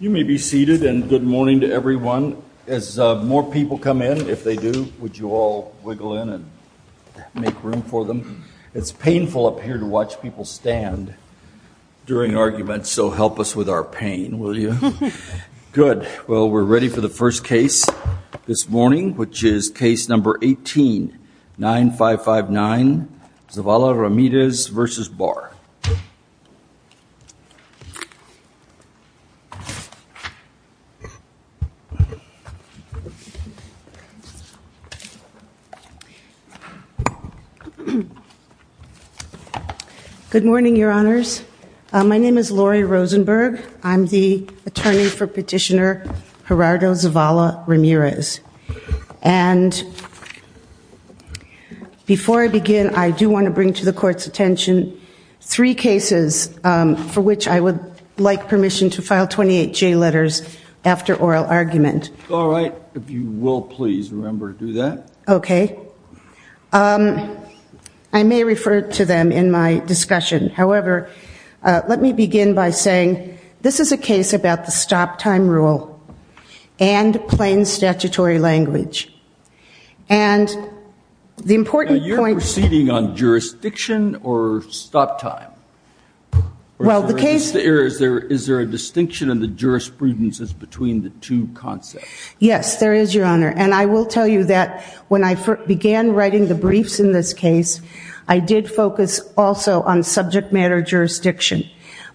You may be seated and good morning to everyone. As more people come in, if they do, would you all wiggle in and make room for them? It's painful up here to watch people stand during arguments, so help us with our pain, will you? Good. Well, we're ready for the first case this morning, which is case number 18, 9559 Zavala-Ramirez v. Barr. Good morning, your honors. My name is Lori Rosenberg. I'm the attorney for petitioner Gerardo Zavala-Ramirez. And before I begin, I do want to bring to the court's attention three cases for which I would like permission to file 28 J letters after oral argument. Barr All right, if you will please remember to do that. Rosenberg Okay. I may refer to them in my discussion. However, let me begin by saying this is a case about the stop time rule and plain statutory language. And the important point— Barr Now, you're proceeding on jurisdiction or stop time? Rosenberg Well, the case— Barr Is there a distinction in the jurisprudences between the two concepts? Rosenberg Yes, there is, your honor. And I will tell you that when I began writing the briefs in this case, I did focus also on subject matter jurisdiction.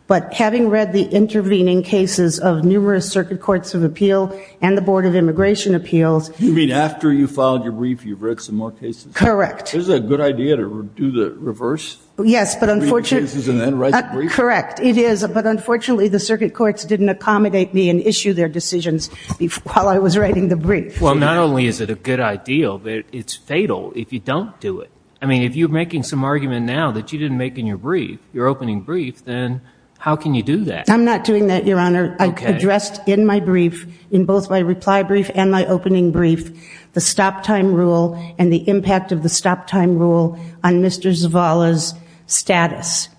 But having read the intervening cases of numerous circuit courts of appeal and the Board of Immigration Appeals— Barr After you filed your brief, you've read some more cases? Rosenberg Correct. Barr Is it a good idea to do the reverse? Rosenberg Yes, but unfortunately— Barr Read the cases and then write the brief? Rosenberg Correct. It is. But unfortunately, the circuit courts didn't accommodate me and issue their decisions while I was writing the brief. Barr Well, not only is it a good idea, but it's fatal if you don't do it. I mean, if you're making some argument now that you didn't make in your brief, your opening brief, then how can you do that? Rosenberg I'm not doing that, your honor. Barr Okay. Rosenberg I addressed in my brief, in both my reply brief and my opening brief, the stop-time rule and the impact of the stop-time rule on Mr. Zavala's status.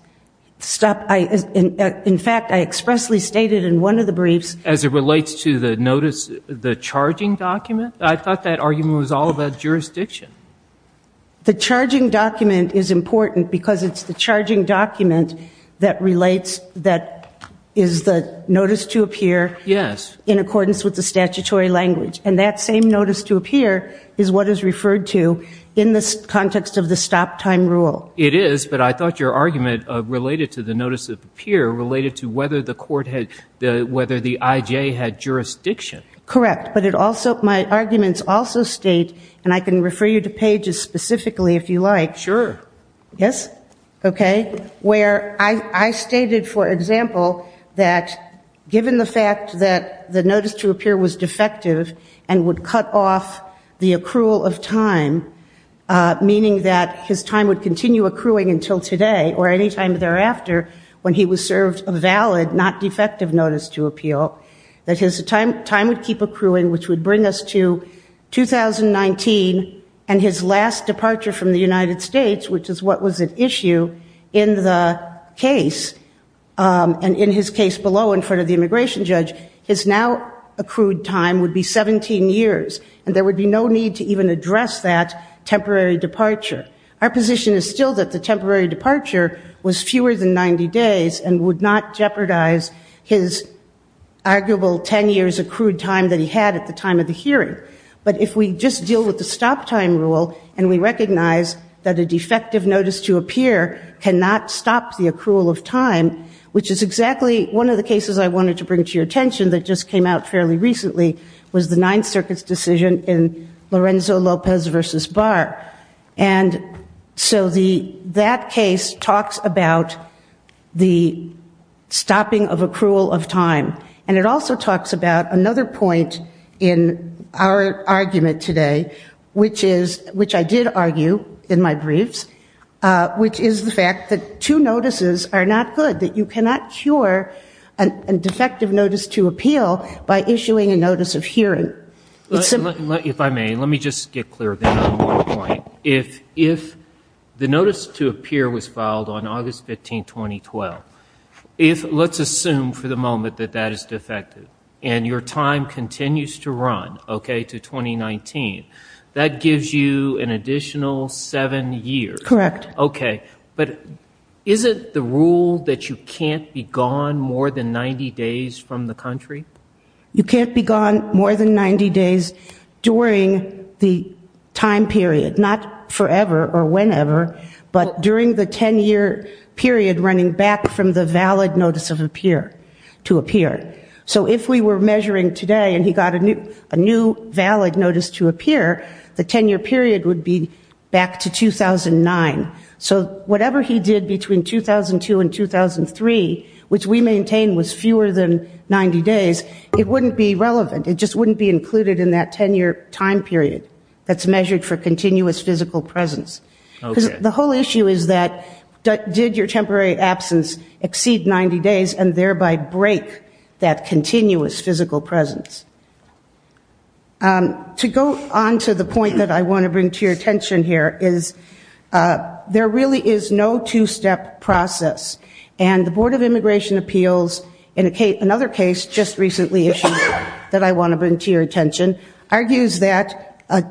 In fact, I expressly stated in one of the briefs— Barr As it relates to the notice, the charging document? I thought that argument was all about jurisdiction. Rosenberg The charging document is important because it's the charging document that relates—that is the notice to appear— Barr Yes. Rosenberg —in accordance with the statutory language. And that same notice to appear is what is referred to in the context of the stop-time rule. Barr It is, but I thought your argument related to the notice of appear related to whether the court had—whether the I.J. had jurisdiction. Rosenberg Correct. But it also—my arguments also state—and I can refer you to pages specifically if you like. Barr Sure. Rosenberg Yes? Okay. Where I stated, for example, that given the fact that the notice to appear was defective and would cut off the accrual of time, meaning that his time would continue accruing until today or any time thereafter when he was served a valid, not defective notice to appeal, that his time would keep accruing, which would bring us to 2019 and his last departure from the United States, which is what was at issue in the case. And in his case below in front of the immigration judge, his now accrued time would be 17 years, and there would be no need to even address that temporary departure. Our position is still that the temporary departure was fewer than 90 days and would not jeopardize his arguable 10 years accrued time that he had at the time of the hearing. But if we just deal with the stop-time rule and we recognize that a defective notice to appear cannot stop the accrual of time, which is exactly one of the cases I wanted to bring to your attention that just came out fairly recently, was the Ninth Circuit's decision in Lorenzo Lopez v. Barr. And so that case talks about the stopping of accrual of time. And it also talks about another point in our argument today, which I did argue in my briefs, which is the fact that two notices are not good, that you cannot cure a defective notice to appeal by issuing a notice of hearing. If I may, let me just get clear then on one point. If the notice to appear was filed on August 15, 2012, if let's assume for the moment that that is defective and your time continues to run, okay, to 2019, that gives you an additional seven years. Correct. Okay, but is it the rule that you can't be gone more than 90 days from the country? You can't be gone more than 90 days during the time period, not forever or whenever, but during the 10-year period running back from the valid notice to appear. So if we were measuring today and he got a new valid notice to appear, the 10-year period would be back to 2009. So whatever he did between 2002 and 2003, which we maintain was fewer than 90 days, it wouldn't be relevant. It just wouldn't be included in that 10-year time period that's measured for continuous physical presence. The whole issue is that did your temporary absence exceed 90 days and thereby break that continuous physical presence? To go on to the point that I want to bring to your attention here is there really is no two-step process. And the Board of Immigration Appeals in another case just recently issued that I want to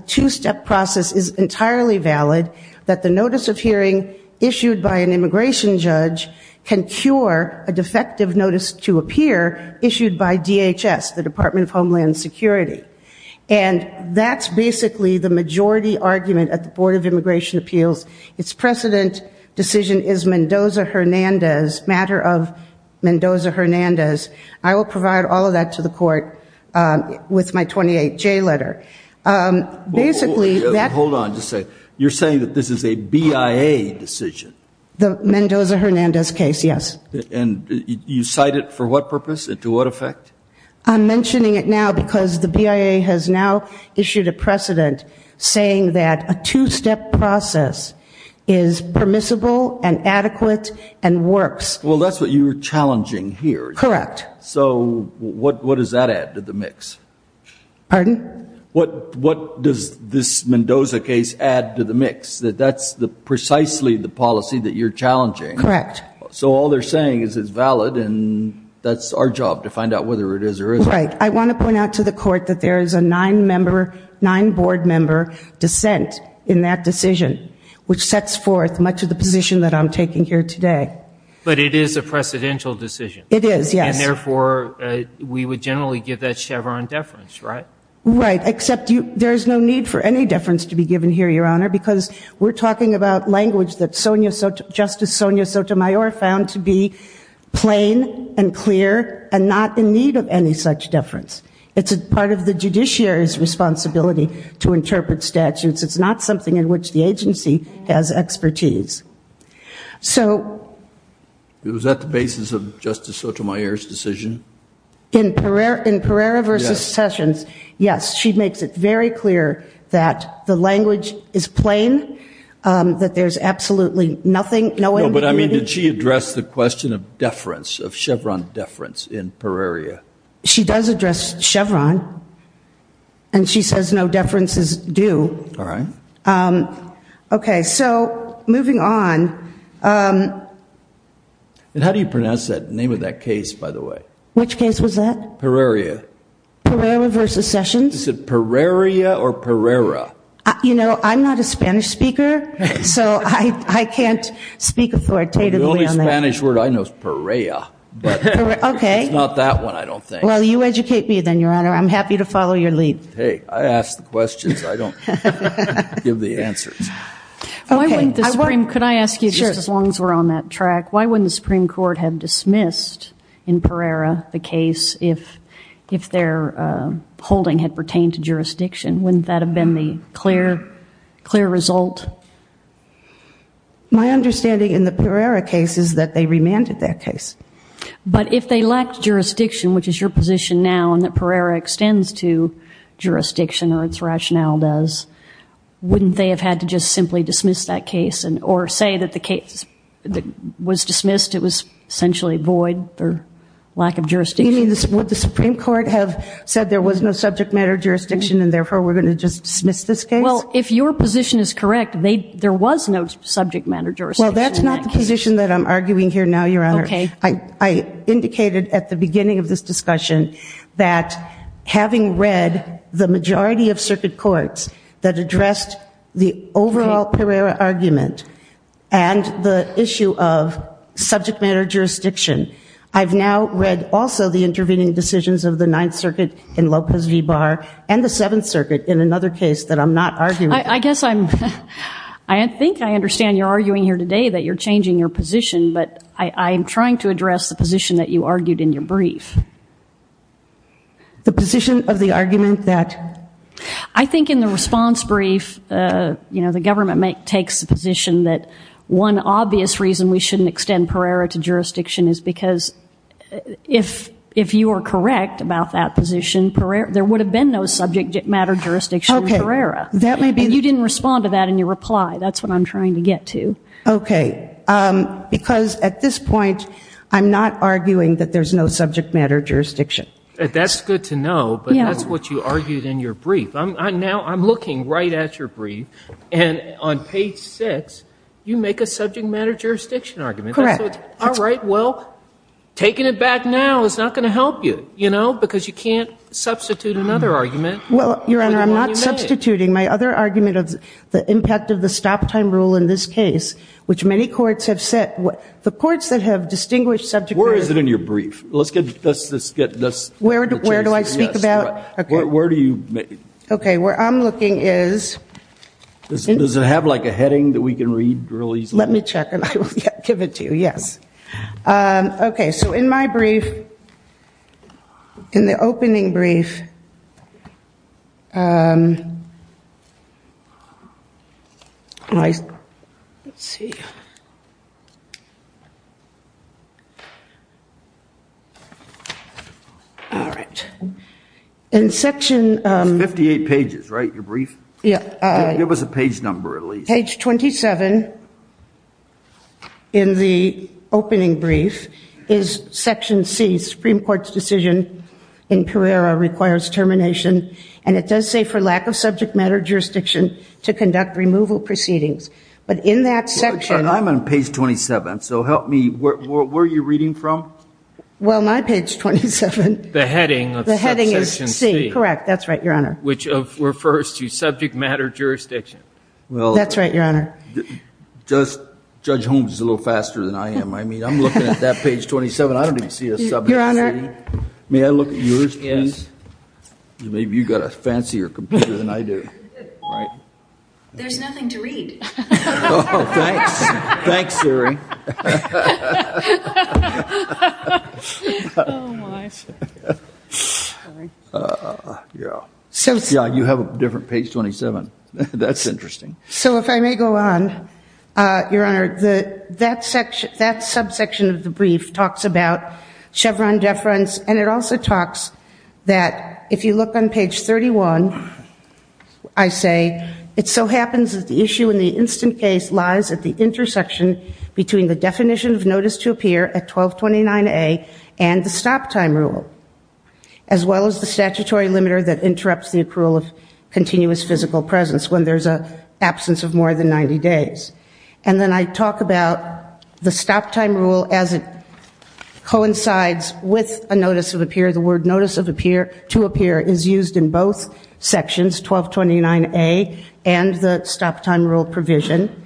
two-step process is entirely valid, that the notice of hearing issued by an immigration judge can cure a defective notice to appear issued by DHS, the Department of Homeland Security. And that's basically the majority argument at the Board of Immigration Appeals. Its precedent decision is Mendoza-Hernandez, matter of Mendoza-Hernandez. I will provide all that to the court with my 28J letter. Hold on. You're saying that this is a BIA decision? The Mendoza-Hernandez case, yes. And you cite it for what purpose and to what effect? I'm mentioning it now because the BIA has now issued a precedent saying that a two-step process is permissible and adequate and works. Well, that's what you're challenging here. Correct. So what does that add to the mix? Pardon? What does this Mendoza case add to the mix? That that's precisely the policy that you're challenging. Correct. So all they're saying is it's valid and that's our job to find out whether it is or isn't. Right. I want to point out to the court that there is a nine-member, nine-board member dissent in that decision, which sets much of the position that I'm taking here today. But it is a precedential decision. It is, yes. And therefore, we would generally give that Chevron deference, right? Right, except there is no need for any deference to be given here, Your Honor, because we're talking about language that Justice Sonia Sotomayor found to be plain and clear and not in need of any such deference. It's part of the judiciary's interpretation of statutes. It's not something in which the agency has expertise. So... Was that the basis of Justice Sotomayor's decision? In Pereira v. Sessions, yes. She makes it very clear that the language is plain, that there's absolutely nothing, no ambiguity. No, but I mean, did she address the question of deference, of Chevron deference in Pereira? She does address Chevron. And she says no do. All right. Okay, so moving on... And how do you pronounce the name of that case, by the way? Which case was that? Pereira. Pereira v. Sessions? Is it Pereira or Pereira? You know, I'm not a Spanish speaker, so I can't speak authoritatively on that. The only Spanish word I know is Pereira. But it's not that one, I don't think. Well, you educate me then, Your Honor. I'm happy to follow your lead. Hey, I ask the questions, I don't give the answers. Could I ask you, just as long as we're on that track, why wouldn't the Supreme Court have dismissed in Pereira the case if their holding had pertained to jurisdiction? Wouldn't that have been the clear result? My understanding in the Pereira case is that they remanded that case. But if they lacked jurisdiction, which is your position now and that Pereira extends to, jurisdiction or its rationale does, wouldn't they have had to just simply dismiss that case or say that the case that was dismissed, it was essentially void or lack of jurisdiction? Would the Supreme Court have said there was no subject matter jurisdiction and therefore we're going to just dismiss this case? Well, if your position is correct, there was no subject matter jurisdiction. Well, that's not the position that I'm arguing here now, Your Honor. Okay. I indicated at the beginning of this discussion that having read the majority of circuit courts that addressed the overall Pereira argument and the issue of subject matter jurisdiction, I've now read also the intervening decisions of the Ninth Circuit in Lopez v. Barr and the Seventh Circuit in another case that I'm not arguing. I guess I'm, I think I understand you're arguing here today that you're changing your position, but I am trying to address the position that you argued in your brief. The position of the argument that? I think in the response brief, you know, the government makes, takes the position that one obvious reason we shouldn't extend Pereira to jurisdiction is because if you are correct about that position, Pereira, there would have been no subject matter jurisdiction in Pereira. Okay. That may be. You didn't respond to that in your reply. That's what I'm trying to get to. Okay. Because at this point, I'm not arguing that there's no subject matter jurisdiction. That's good to know, but that's what you argued in your brief. Now I'm looking right at your brief and on page six, you make a subject matter jurisdiction argument. Correct. All right. Well, taking it back now is not going to help you, you know, because you can't substitute another argument. Well, Your Honor, I'm not substituting my other argument of the impact of the stop time rule in this case, which many courts have set. The courts that have distinguished subject matter. Where is it in your brief? Let's get this. Where do I speak about? Where do you make it? Okay. Where I'm looking is. Does it have like a heading that we can read really easily? Let me check and I will give it to you. Yes. Okay. So in my brief, in the opening brief, um, let's see. All right. In section, um. Fifty-eight pages, right? Your brief? Yeah. Give us a page number at least. Page 27 in the opening brief is section C, Supreme Court's decision in Pereira requires termination. And it does say for lack of subject matter jurisdiction to conduct removal proceedings. But in that section. I'm on page 27. So help me. Where are you reading from? Well, my page 27. The heading. The heading is C. Correct. That's right, Your Honor. Which refers to subject matter jurisdiction. Well, that's right, Your Honor. Just Judge Holmes is a little faster than I am. I mean, I'm looking at that page 27. I don't even see a subject. Your Honor. May I look at yours, please? Yes. Maybe you've got a fancier computer than I do. Right. There's nothing to read. Oh, thanks. Thanks, Siri. Oh, my. Yeah. Yeah, you have a different page 27. That's interesting. So if I may go on, Your Honor. That section, that subsection of the brief talks about if you look on page 31, I say it so happens that the issue in the instant case lies at the intersection between the definition of notice to appear at 1229A and the stop time rule. As well as the statutory limiter that interrupts the accrual of continuous physical presence when there's an absence of more than 90 days. And then I talk about the stop time rule as it coincides with a notice of appear. To appear is used in both sections, 1229A and the stop time rule provision.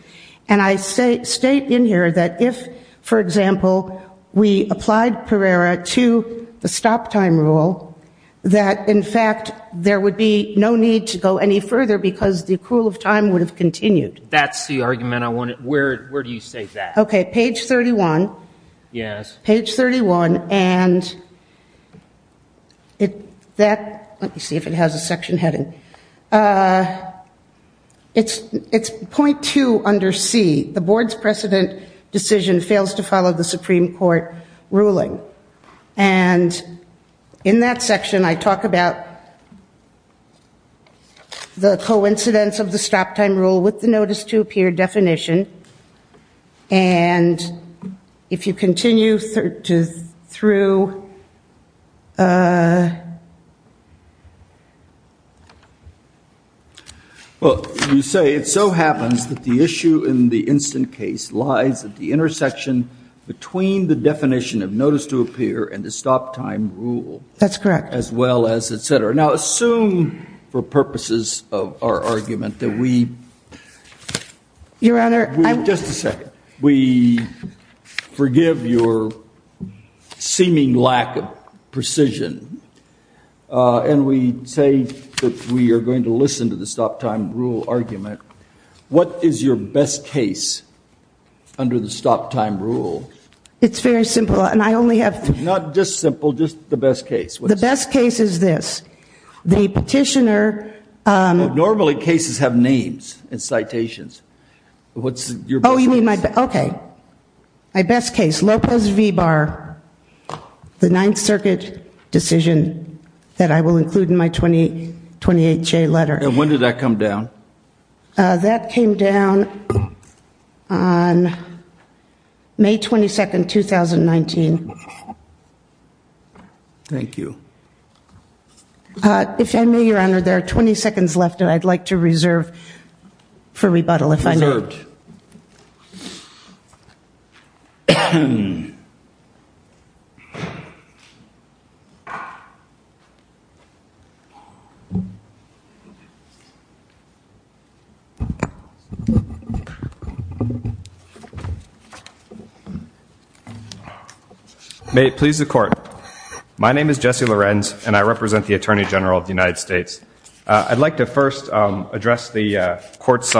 And I state in here that if, for example, we applied Pereira to the stop time rule, that in fact there would be no need to go any further because the accrual of time would have continued. That's the argument I wanted. Where do you say that? Okay. Page 31. Yes. Page 31. And that, let me see if it has a section heading. It's .2 under C. The board's precedent decision fails to follow the Supreme Court ruling. And in that section I talk about the coincidence of the stop time rule with the notice to appear definition. And if you continue through. Well, you say it so happens that the issue in the instant case lies at the intersection between the definition of notice to appear and the stop time rule. That's correct. As well as et cetera. Now assume for purposes of our argument that we. Your Honor. We, just a second. We forgive your seeming lack of precision. And we say that we are going to listen to the stop time rule argument. What is your best case under the stop time rule? It's very simple. And I only have. Not just simple, just the best case. The best case is this. The petitioner. Normally cases have names and citations. What's your best case? Okay. My best case. Lopez v. Barr. The Ninth Circuit decision that I will include in my 2028 letter. And when did that come down? That came down on May 22nd, 2019. Thank you. If I may, your Honor, there are 20 seconds left and I'd like to reserve for rebuttal. If I may. My name is Jesse Lorenz and I represent the Attorney General of the United States. I'd like to first address the court's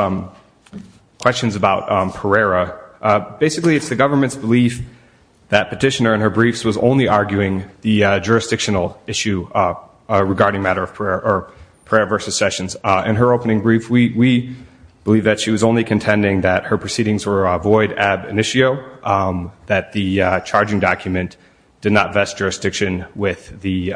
questions about Pereira. Basically, it's the government's belief that petitioner in her briefs was only arguing the jurisdictional issue regarding matter of Pereira versus Sessions. In her opening brief, we believe that she was only contending that her proceedings were void ab initio, that the charging document did not vest jurisdiction with the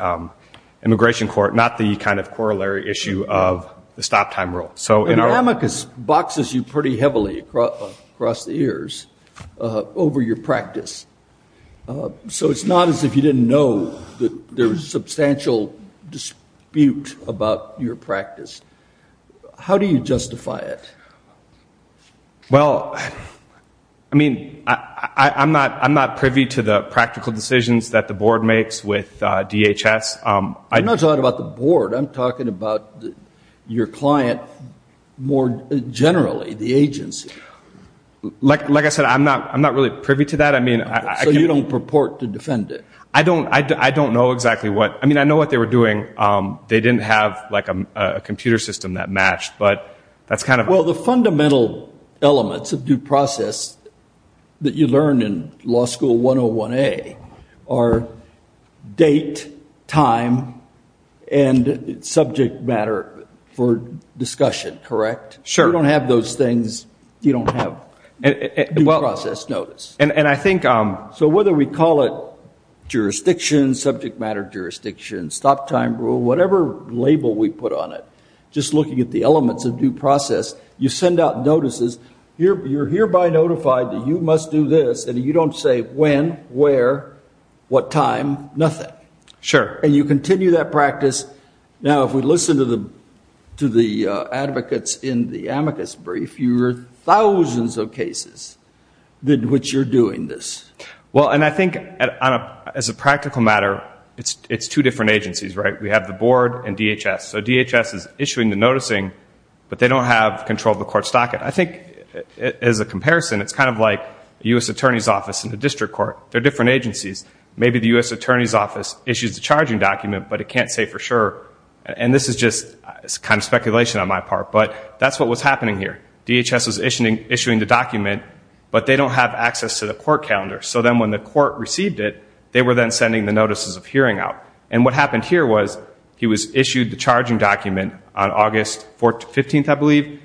immigration court, not the kind of corollary issue of the stop time rule. But an amicus boxes you pretty heavily across the years over your practice. So it's not as if you didn't know that there was substantial dispute about your practice. How do you justify it? Well, I mean, I'm not privy to the practical decisions that the board makes with DHS. I'm not talking about the board. I'm talking about your client more generally, the agency. Like I said, I'm not really privy to that. I mean, I can't- So you don't purport to defend it? I don't know exactly what. I mean, I know what they were doing. They didn't have like a computer system that matched, but that's kind of- Well, the fundamental elements of due process that you learn in law school 101A are date, time, and subject matter for discussion, correct? Sure. You don't have those things. You don't have due process notice. And I think- So whether we call it jurisdiction, subject matter jurisdiction, stop time rule, whatever label we put on it, just looking at the elements of due process, you send out notices. You're hereby notified that you must do this, and you don't say when, where, what time, nothing. Sure. And you continue that practice. Now, if we listen to the advocates in the amicus brief, you heard thousands of cases in which you're doing this. Well, and I think as a practical matter, it's two different agencies, right? We have the board and DHS. So DHS is issuing the noticing, but they don't have control of the court's docket. I think as a comparison, it's kind of like a U.S. attorney's office in the district court. They're different agencies. Maybe the U.S. attorney's office issues the charging document, but it can't say for sure. And this is just kind of speculation on my part, but that's what was happening here. DHS was issuing the document, but they don't have access to the court calendar. So then when the court received it, they were then sending the notices of hearing out. And what happened here was he was issued the charging document on August 15th, I believe,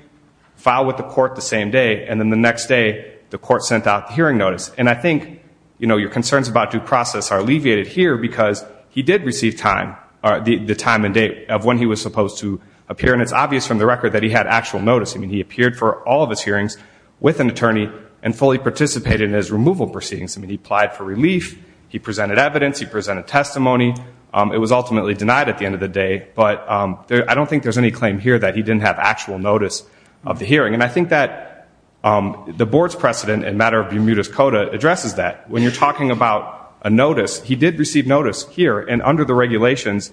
filed with the court the same day. And then the next day, the court sent out the hearing notice. And I think your concerns about due process are alleviated here because he did receive time, the time and date of when he was supposed to appear. And it's obvious from the record that he had actual notice. I mean, he appeared for all of his hearings with an attorney and fully participated in his removal proceedings. I mean, he applied for relief. He presented evidence. He presented testimony. It was ultimately denied at the end of the day. But I don't think there's any claim here that he didn't have actual notice of the hearing. And I think that the board's precedent in matter of Bermuda's Coda addresses that. When you're talking about a notice, he did receive notice here and under the regulations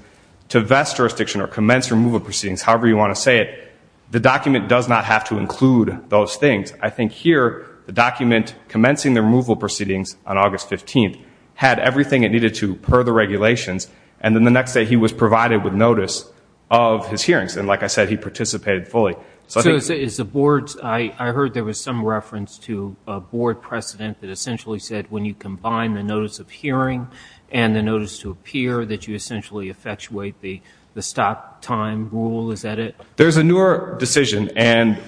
to vest jurisdiction or commence removal proceedings, however you want to say it, the document does not have to include those things. I think here, the document commencing the removal proceedings on August 15th had everything it needed to per the regulations. And then the next day, he was provided with notice of his hearings. And like I said, he participated fully. So is the board's, I heard there was some reference to a board precedent that essentially said when you combine the notice of hearing and the notice to appear that you essentially effectuate the stop time rule. Is that it? There's a newer decision. And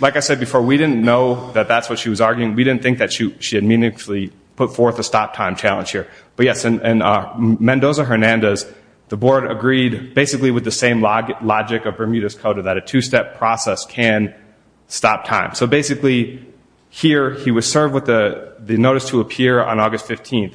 like I said before, we didn't know that that's what she was arguing. We didn't think that she had meaningfully put forth a stop time challenge. But yes, in Mendoza-Hernandez, the board agreed basically with the same logic of Bermuda's Coda that a two-step process can stop time. So basically here, he was served with the notice to appear on August 15th.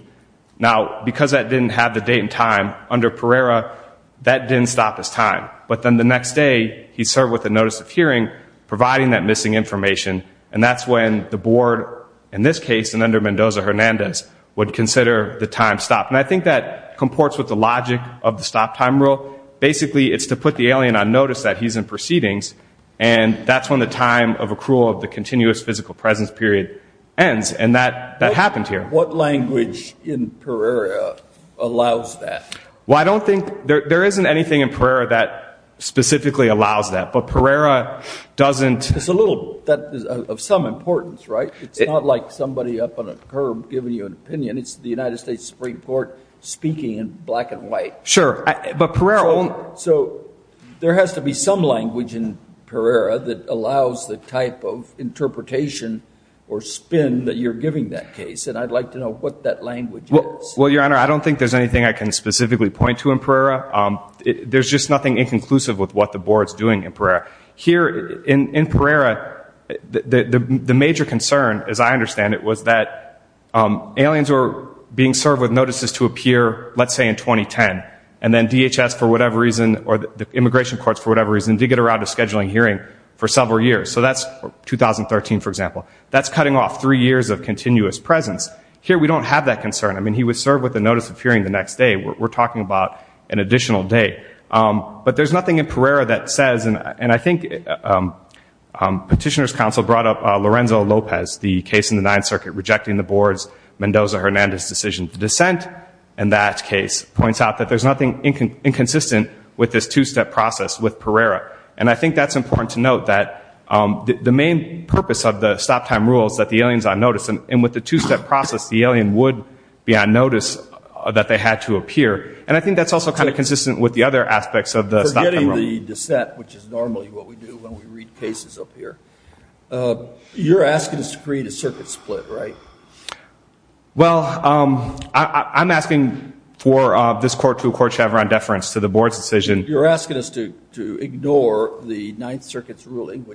Now, because that didn't have the date and time, under Pereira, that didn't stop his time. But then the next day, he served with a notice of hearing providing that missing information. And that's when the board, in this case and under Mendoza-Hernandez, would consider the time stopped. And I think that comports with the logic of the stop time rule. Basically, it's to put the alien on notice that he's in proceedings. And that's when the time of accrual of the continuous physical presence period ends. And that happened here. What language in Pereira allows that? Well, I don't think there isn't anything in Pereira that specifically allows that. But Pereira doesn't. It's a little of some importance, right? It's not like somebody up on a curb giving you an opinion. It's the United States Supreme Court speaking in black and white. Sure. But Pereira won't. So there has to be some language in Pereira that allows the type of interpretation or spin that you're giving that case. And I'd like to know what that language is. Well, Your Honor, I don't think there's anything I can specifically point to in Pereira. There's just nothing inconclusive with what the board's doing in Pereira. Here, in Pereira, the major concern, as I understand it, was that aliens were being served with notices to appear, let's say, in 2010. And then DHS, for whatever reason, or the immigration courts, for whatever reason, did get around to scheduling hearing for several years. So that's 2013, for example. That's cutting off three years of continuous presence. Here, we don't have that concern. I mean, he was served with a notice of hearing the next day. We're talking about an additional day. But there's nothing in Pereira that says. And I think Petitioner's Counsel brought up Lorenzo Lopez, the case in the Ninth Circuit, rejecting the board's Mendoza-Hernandez decision to dissent. And that case points out that there's nothing inconsistent with this two-step process with Pereira. And I think that's important to note, that the main purpose of the stop-time rule is that the alien's on notice. And with the two-step process, the alien would be on notice that they had to appear. And I think that's also kind of consistent with the other aspects of the stop-time rule. Regarding the dissent, which is normally what we do when we read cases up here, you're asking us to create a circuit split, right? Well, I'm asking for this court to accord Chevron deference to the board's decision. You're asking us to ignore the Ninth Circuit's ruling,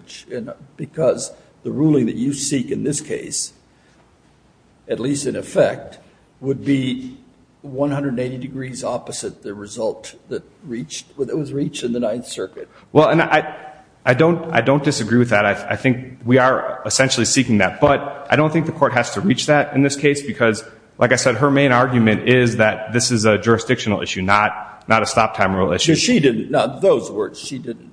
because the ruling that you seek in this case, at least in effect, would be 180 degrees opposite the result that was reached in the Ninth Circuit. Well, and I don't disagree with that. I think we are essentially seeking that. But I don't think the court has to reach that in this case. Because like I said, her main argument is that this is a jurisdictional issue, not a stop-time rule issue. She didn't. Not those words. She didn't.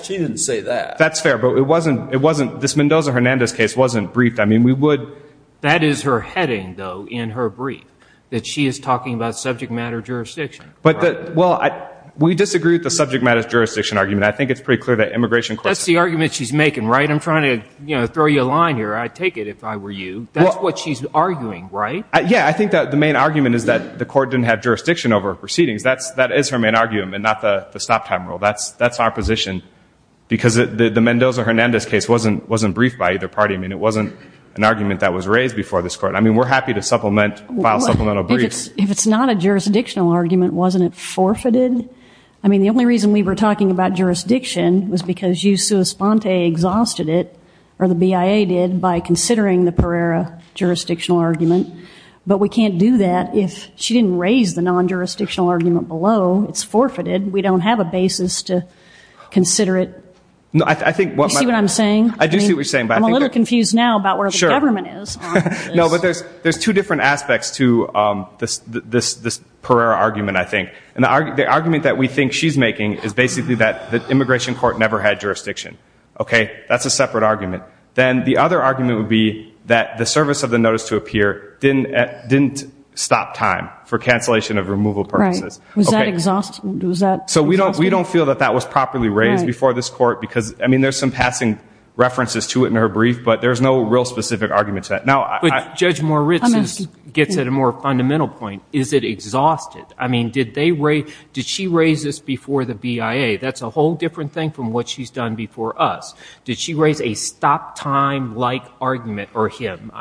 She didn't say that. That's fair. But this Mendoza-Hernandez case wasn't briefed. I mean, we would. That is her heading, though, in her brief, that she is talking about subject matter jurisdiction. Well, we disagree with the subject matter jurisdiction argument. I think it's pretty clear that immigration courts— That's the argument she's making, right? I'm trying to throw you a line here. I'd take it if I were you. That's what she's arguing, right? Yeah. I think that the main argument is that the court didn't have jurisdiction over her proceedings. That is her main argument, and not the stop-time rule. That's our position. Because the Mendoza-Hernandez case wasn't briefed by either party. I mean, it wasn't an argument that was raised before this court. I mean, we're happy to file supplemental briefs— If it's not a jurisdictional argument, wasn't it forfeited? I mean, the only reason we were talking about jurisdiction was because you, sua sponte, exhausted it, or the BIA did, by considering the Pereira jurisdictional argument. But we can't do that if she didn't raise the non-jurisdictional argument below. It's forfeited. We don't have a basis to consider it. No, I think— Do you see what I'm saying? I do see what you're saying, but I think— I'm a little confused now about where the government is on this. There's two different aspects to this Pereira argument, I think. And the argument that we think she's making is basically that the immigration court never had jurisdiction. OK? That's a separate argument. Then the other argument would be that the service of the notice to appear didn't stop time for cancellation of removal purposes. Right. Was that exhaustive? So we don't feel that that was properly raised before this court. Because, I mean, there's some passing references to it in her brief, but there's no real specific argument to that. But Judge Moritz gets at a more fundamental point. Is it exhaustive? I mean, did she raise this before the BIA? That's a whole different thing from what she's done before us. Did she raise a stop-time-like argument, or him,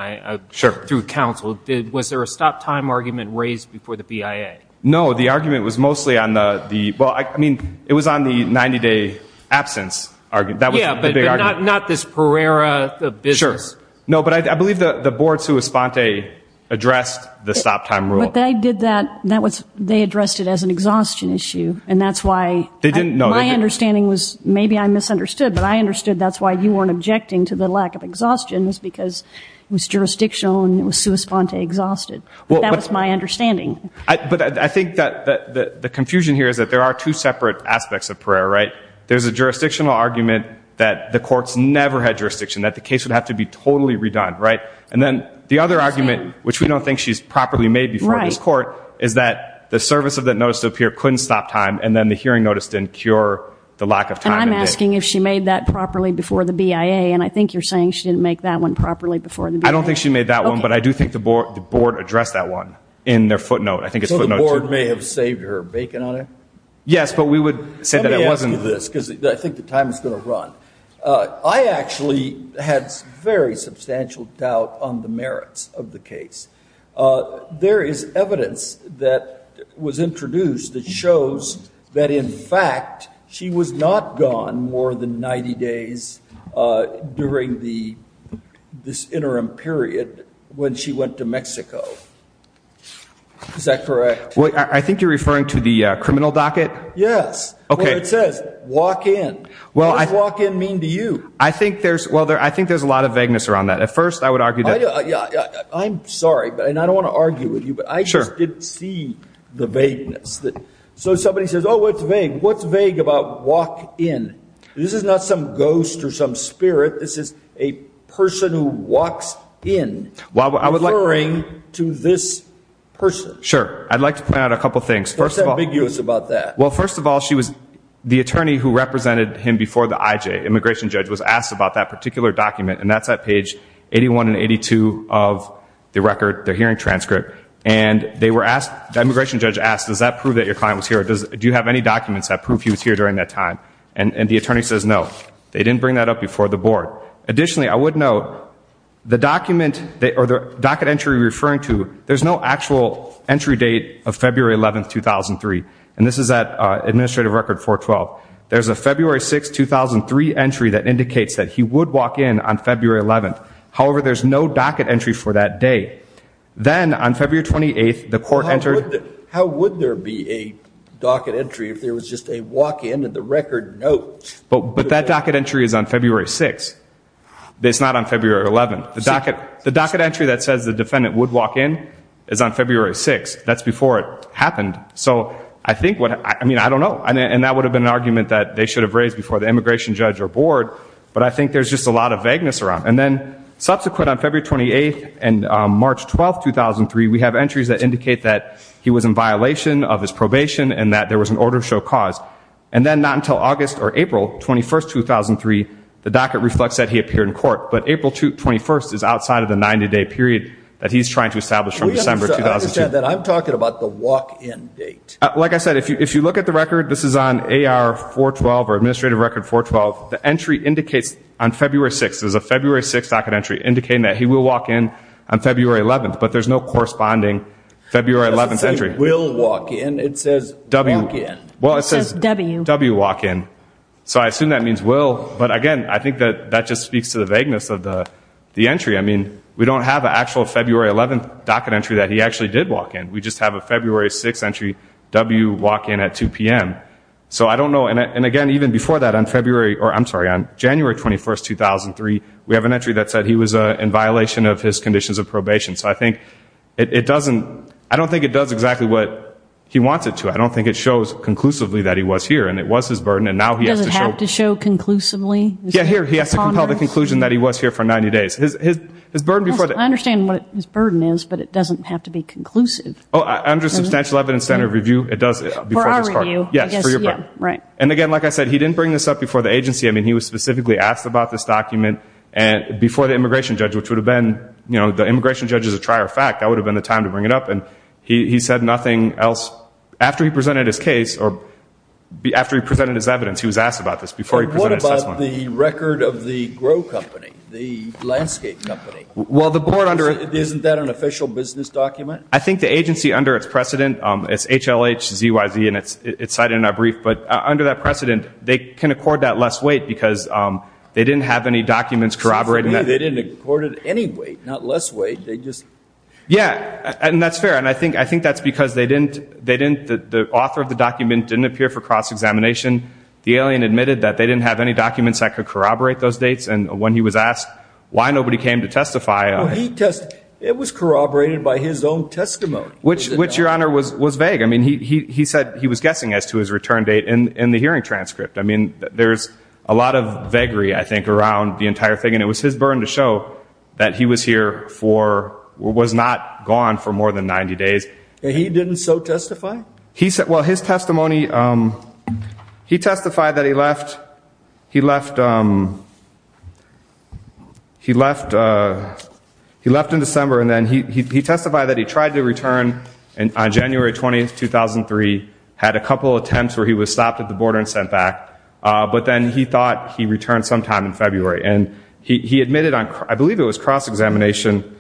through counsel? Was there a stop-time argument raised before the BIA? No. The argument was mostly on the— Well, I mean, it was on the 90-day absence argument. Yeah, but not this Pereira business. Sure. But I believe the board, sua sponte, addressed the stop-time rule. But they addressed it as an exhaustion issue. And that's why my understanding was— Maybe I misunderstood, but I understood that's why you weren't objecting to the lack of exhaustions, because it was jurisdictional and it was sua sponte exhausted. That was my understanding. But I think that the confusion here is that there are two separate aspects of Pereira, right? There's a jurisdictional argument that the courts never had jurisdiction, that the case would have to be totally redone, right? And then the other argument, which we don't think she's properly made before this court, is that the service of that notice to Pereira couldn't stop time, and then the hearing notice didn't cure the lack of time. And I'm asking if she made that properly before the BIA, and I think you're saying she didn't make that one properly before the BIA. I don't think she made that one, but I do think the board addressed that one in their footnote. So the board may have saved her bacon on it? Yes, but we would say that it wasn't— Let me ask you this, because I think the time is going to run. I actually had very substantial doubt on the merits of the case. There is evidence that was introduced that shows that, in fact, she was not gone more than 90 days during this interim period when she went to Mexico. Is that correct? Well, I think you're referring to the criminal docket? Yes, where it says, walk in. What does walk in mean to you? I think there's a lot of vagueness around that. At first, I would argue that— I'm sorry, and I don't want to argue with you, but I just didn't see the vagueness. So somebody says, oh, what's vague? What's vague about walk in? This is not some ghost or some spirit. This is a person who walks in referring to this person. I'd like to point out a couple of things. First of all— What's ambiguous about that? First of all, the attorney who represented him before the IJ, immigration judge, was asked about that particular document. That's at page 81 and 82 of the record, the hearing transcript. The immigration judge asked, does that prove that your client was here? Do you have any documents that prove he was here during that time? The attorney says no. They didn't bring that up before the board. Additionally, I would note, the docket entry you're referring to, there's no actual entry date of February 11, 2003. This is at Administrative Record 412. There's a February 6, 2003 entry that indicates that he would walk in on February 11. However, there's no docket entry for that date. Then, on February 28, the court entered— How would there be a docket entry if there was just a walk-in and the record, no? But that docket entry is on February 6. It's not on February 11. The docket entry that says the defendant would walk in is on February 6. That's before it happened. I think what—I mean, I don't know. That would have been an argument that they should have raised before the immigration judge or board. But I think there's just a lot of vagueness around it. Then, subsequent on February 28 and March 12, 2003, we have entries that indicate that he was in violation of his probation and that there was an order to show cause. Then, not until August or April 21, 2003, the docket reflects that he appeared in court. April 21 is outside of the 90-day period that he's trying to establish from December 2002. I'm talking about the walk-in date. Like I said, if you look at the record, this is on AR 412 or Administrative Record 412. The entry indicates on February 6. There's a February 6 docket entry indicating that he will walk in on February 11. But there's no corresponding February 11 entry. Will walk in. It says walk in. Well, it says W walk in. So I assume that means will. But again, I think that just speaks to the vagueness of the entry. We don't have an actual February 11 docket entry that he actually did walk in. We just have a February 6 entry, W walk in at 2 p.m. So I don't know. And again, even before that, on January 21, 2003, we have an entry that said he was in violation of his conditions of probation. So I think it doesn't, I don't think it does exactly what he wants it to. I don't think it shows conclusively that he was here and it was his burden. And now he has to show. It doesn't have to show conclusively? Yeah, here. He has to compel the conclusion that he was here for 90 days. His burden before that. I understand what his burden is, but it doesn't have to be conclusive. Oh, I'm just substantial evidence center review. It does it before you. Yes, right. And again, like I said, he didn't bring this up before the agency. I mean, he was specifically asked about this document and before the immigration judge, which would have been, you know, the immigration judge is a trier of fact. That would have been the time to bring it up. And he said nothing else after he presented his case or after he presented his evidence. He was asked about this before. The record of the grow company, the landscape company. Well, the board under it, isn't that an official business document? I think the agency under its precedent, it's HLH ZYZ and it's cited in our brief, but under that precedent, they can accord that less weight because they didn't have any documents corroborating that. They didn't accord it any weight, not less weight. They just. Yeah. And that's fair. And I think that's because they didn't, the author of the document didn't appear for cross-examination. The alien admitted that they didn't have any documents that could corroborate those dates. And when he was asked why nobody came to testify. It was corroborated by his own testimony. Which your honor was vague. I mean, he said he was guessing as to his return date in the hearing transcript. I mean, there's a lot of vagary, I think, around the entire thing. And it was his burden to show that he was here for, was not gone for more than 90 days. He didn't so testify. He said, well, his testimony, he testified that he left, he left, he left, he left in December. And then he testified that he tried to return. And on January 20th, 2003, had a couple of attempts where he was stopped at the border and sent back. But then he thought he returned sometime in February. And he admitted on, I believe it was cross-examination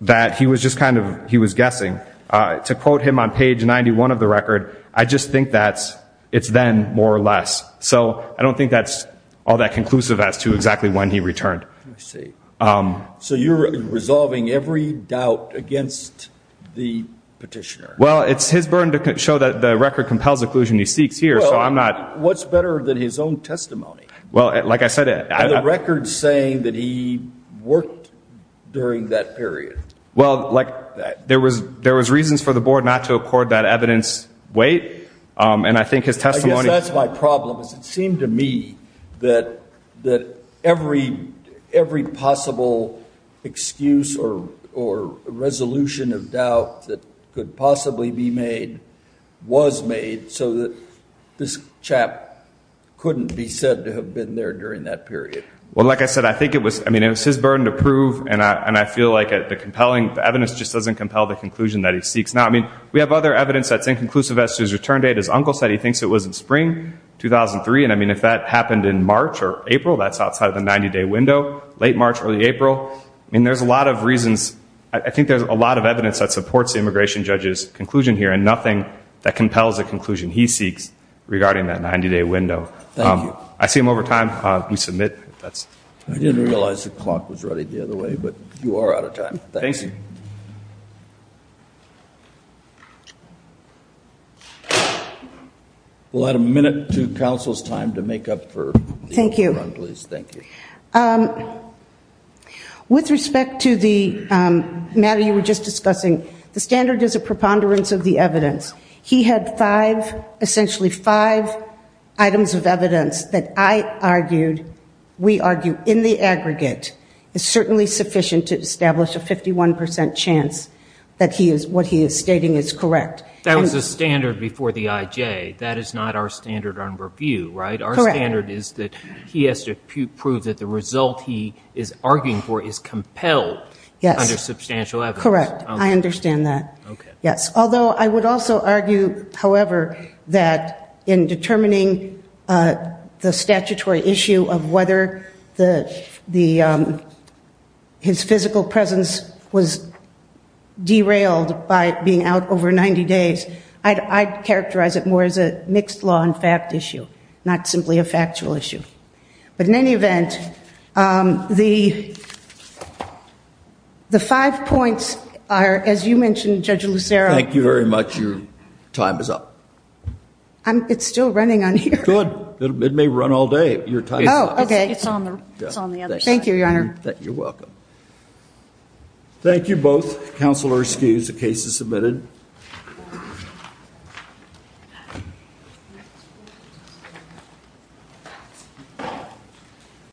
that he was just kind of, he was guessing. To quote him on page 91 of the record, I just think that it's then more or less. So I don't think that's all that conclusive as to exactly when he returned. Let me see. So you're resolving every doubt against the petitioner. Well, it's his burden to show that the record compels the conclusion he seeks here. So I'm not. What's better than his own testimony? Well, like I said, the record saying that he worked during that period. Well, like there was, there was reasons for the board not to accord that evidence weight. And I think his testimony, that's my problem is it seemed to me that, that every, every possible excuse or, or resolution of doubt that could possibly be made was made so that this chap couldn't be said to have been there during that period. Well, like I said, I think it was, I mean, it was his burden to prove. And I feel like the compelling evidence just doesn't compel the conclusion that he seeks. Now, I mean, we have other evidence that's inconclusive as to his return date. His uncle said he thinks it was in spring 2003. And I mean, if that happened in March or April, that's outside of the 90 day window, late March, early April. I mean, there's a lot of reasons. I think there's a lot of evidence that supports the immigration judge's conclusion here and nothing that compels a conclusion he seeks regarding that 90 day window. Thank you. I see him over time. We submit that's. I didn't realize the clock was running the other way, but you are out of time. Thanks. We'll add a minute to council's time to make up for. Thank you. With respect to the matter you were just discussing, the standard is a preponderance of the evidence. He had five, essentially five, items of evidence that I argued, we argue, in the aggregate is certainly sufficient to establish a 51% chance that he is, what he is stating is correct. That was the standard before the IJ. That is not our standard on review, right? Our standard is that he has to prove that the result he is arguing for is compelled under substantial evidence. Correct. I understand that. Yes. Although I would also argue, however, that in determining the statutory issue of whether his physical presence was derailed by being out over 90 days, I'd characterize it more as a mixed law and fact issue, not simply a factual issue. But in any event, the five points are, as you mentioned, Judge Lucero. Thank you very much. Your time is up. It's still running on here. Good. It may run all day. Your time is up. Oh, okay. It's on the other side. Thank you, Your Honor. You're welcome. Thank you both. Counselor, excuse the case is submitted. Thank you.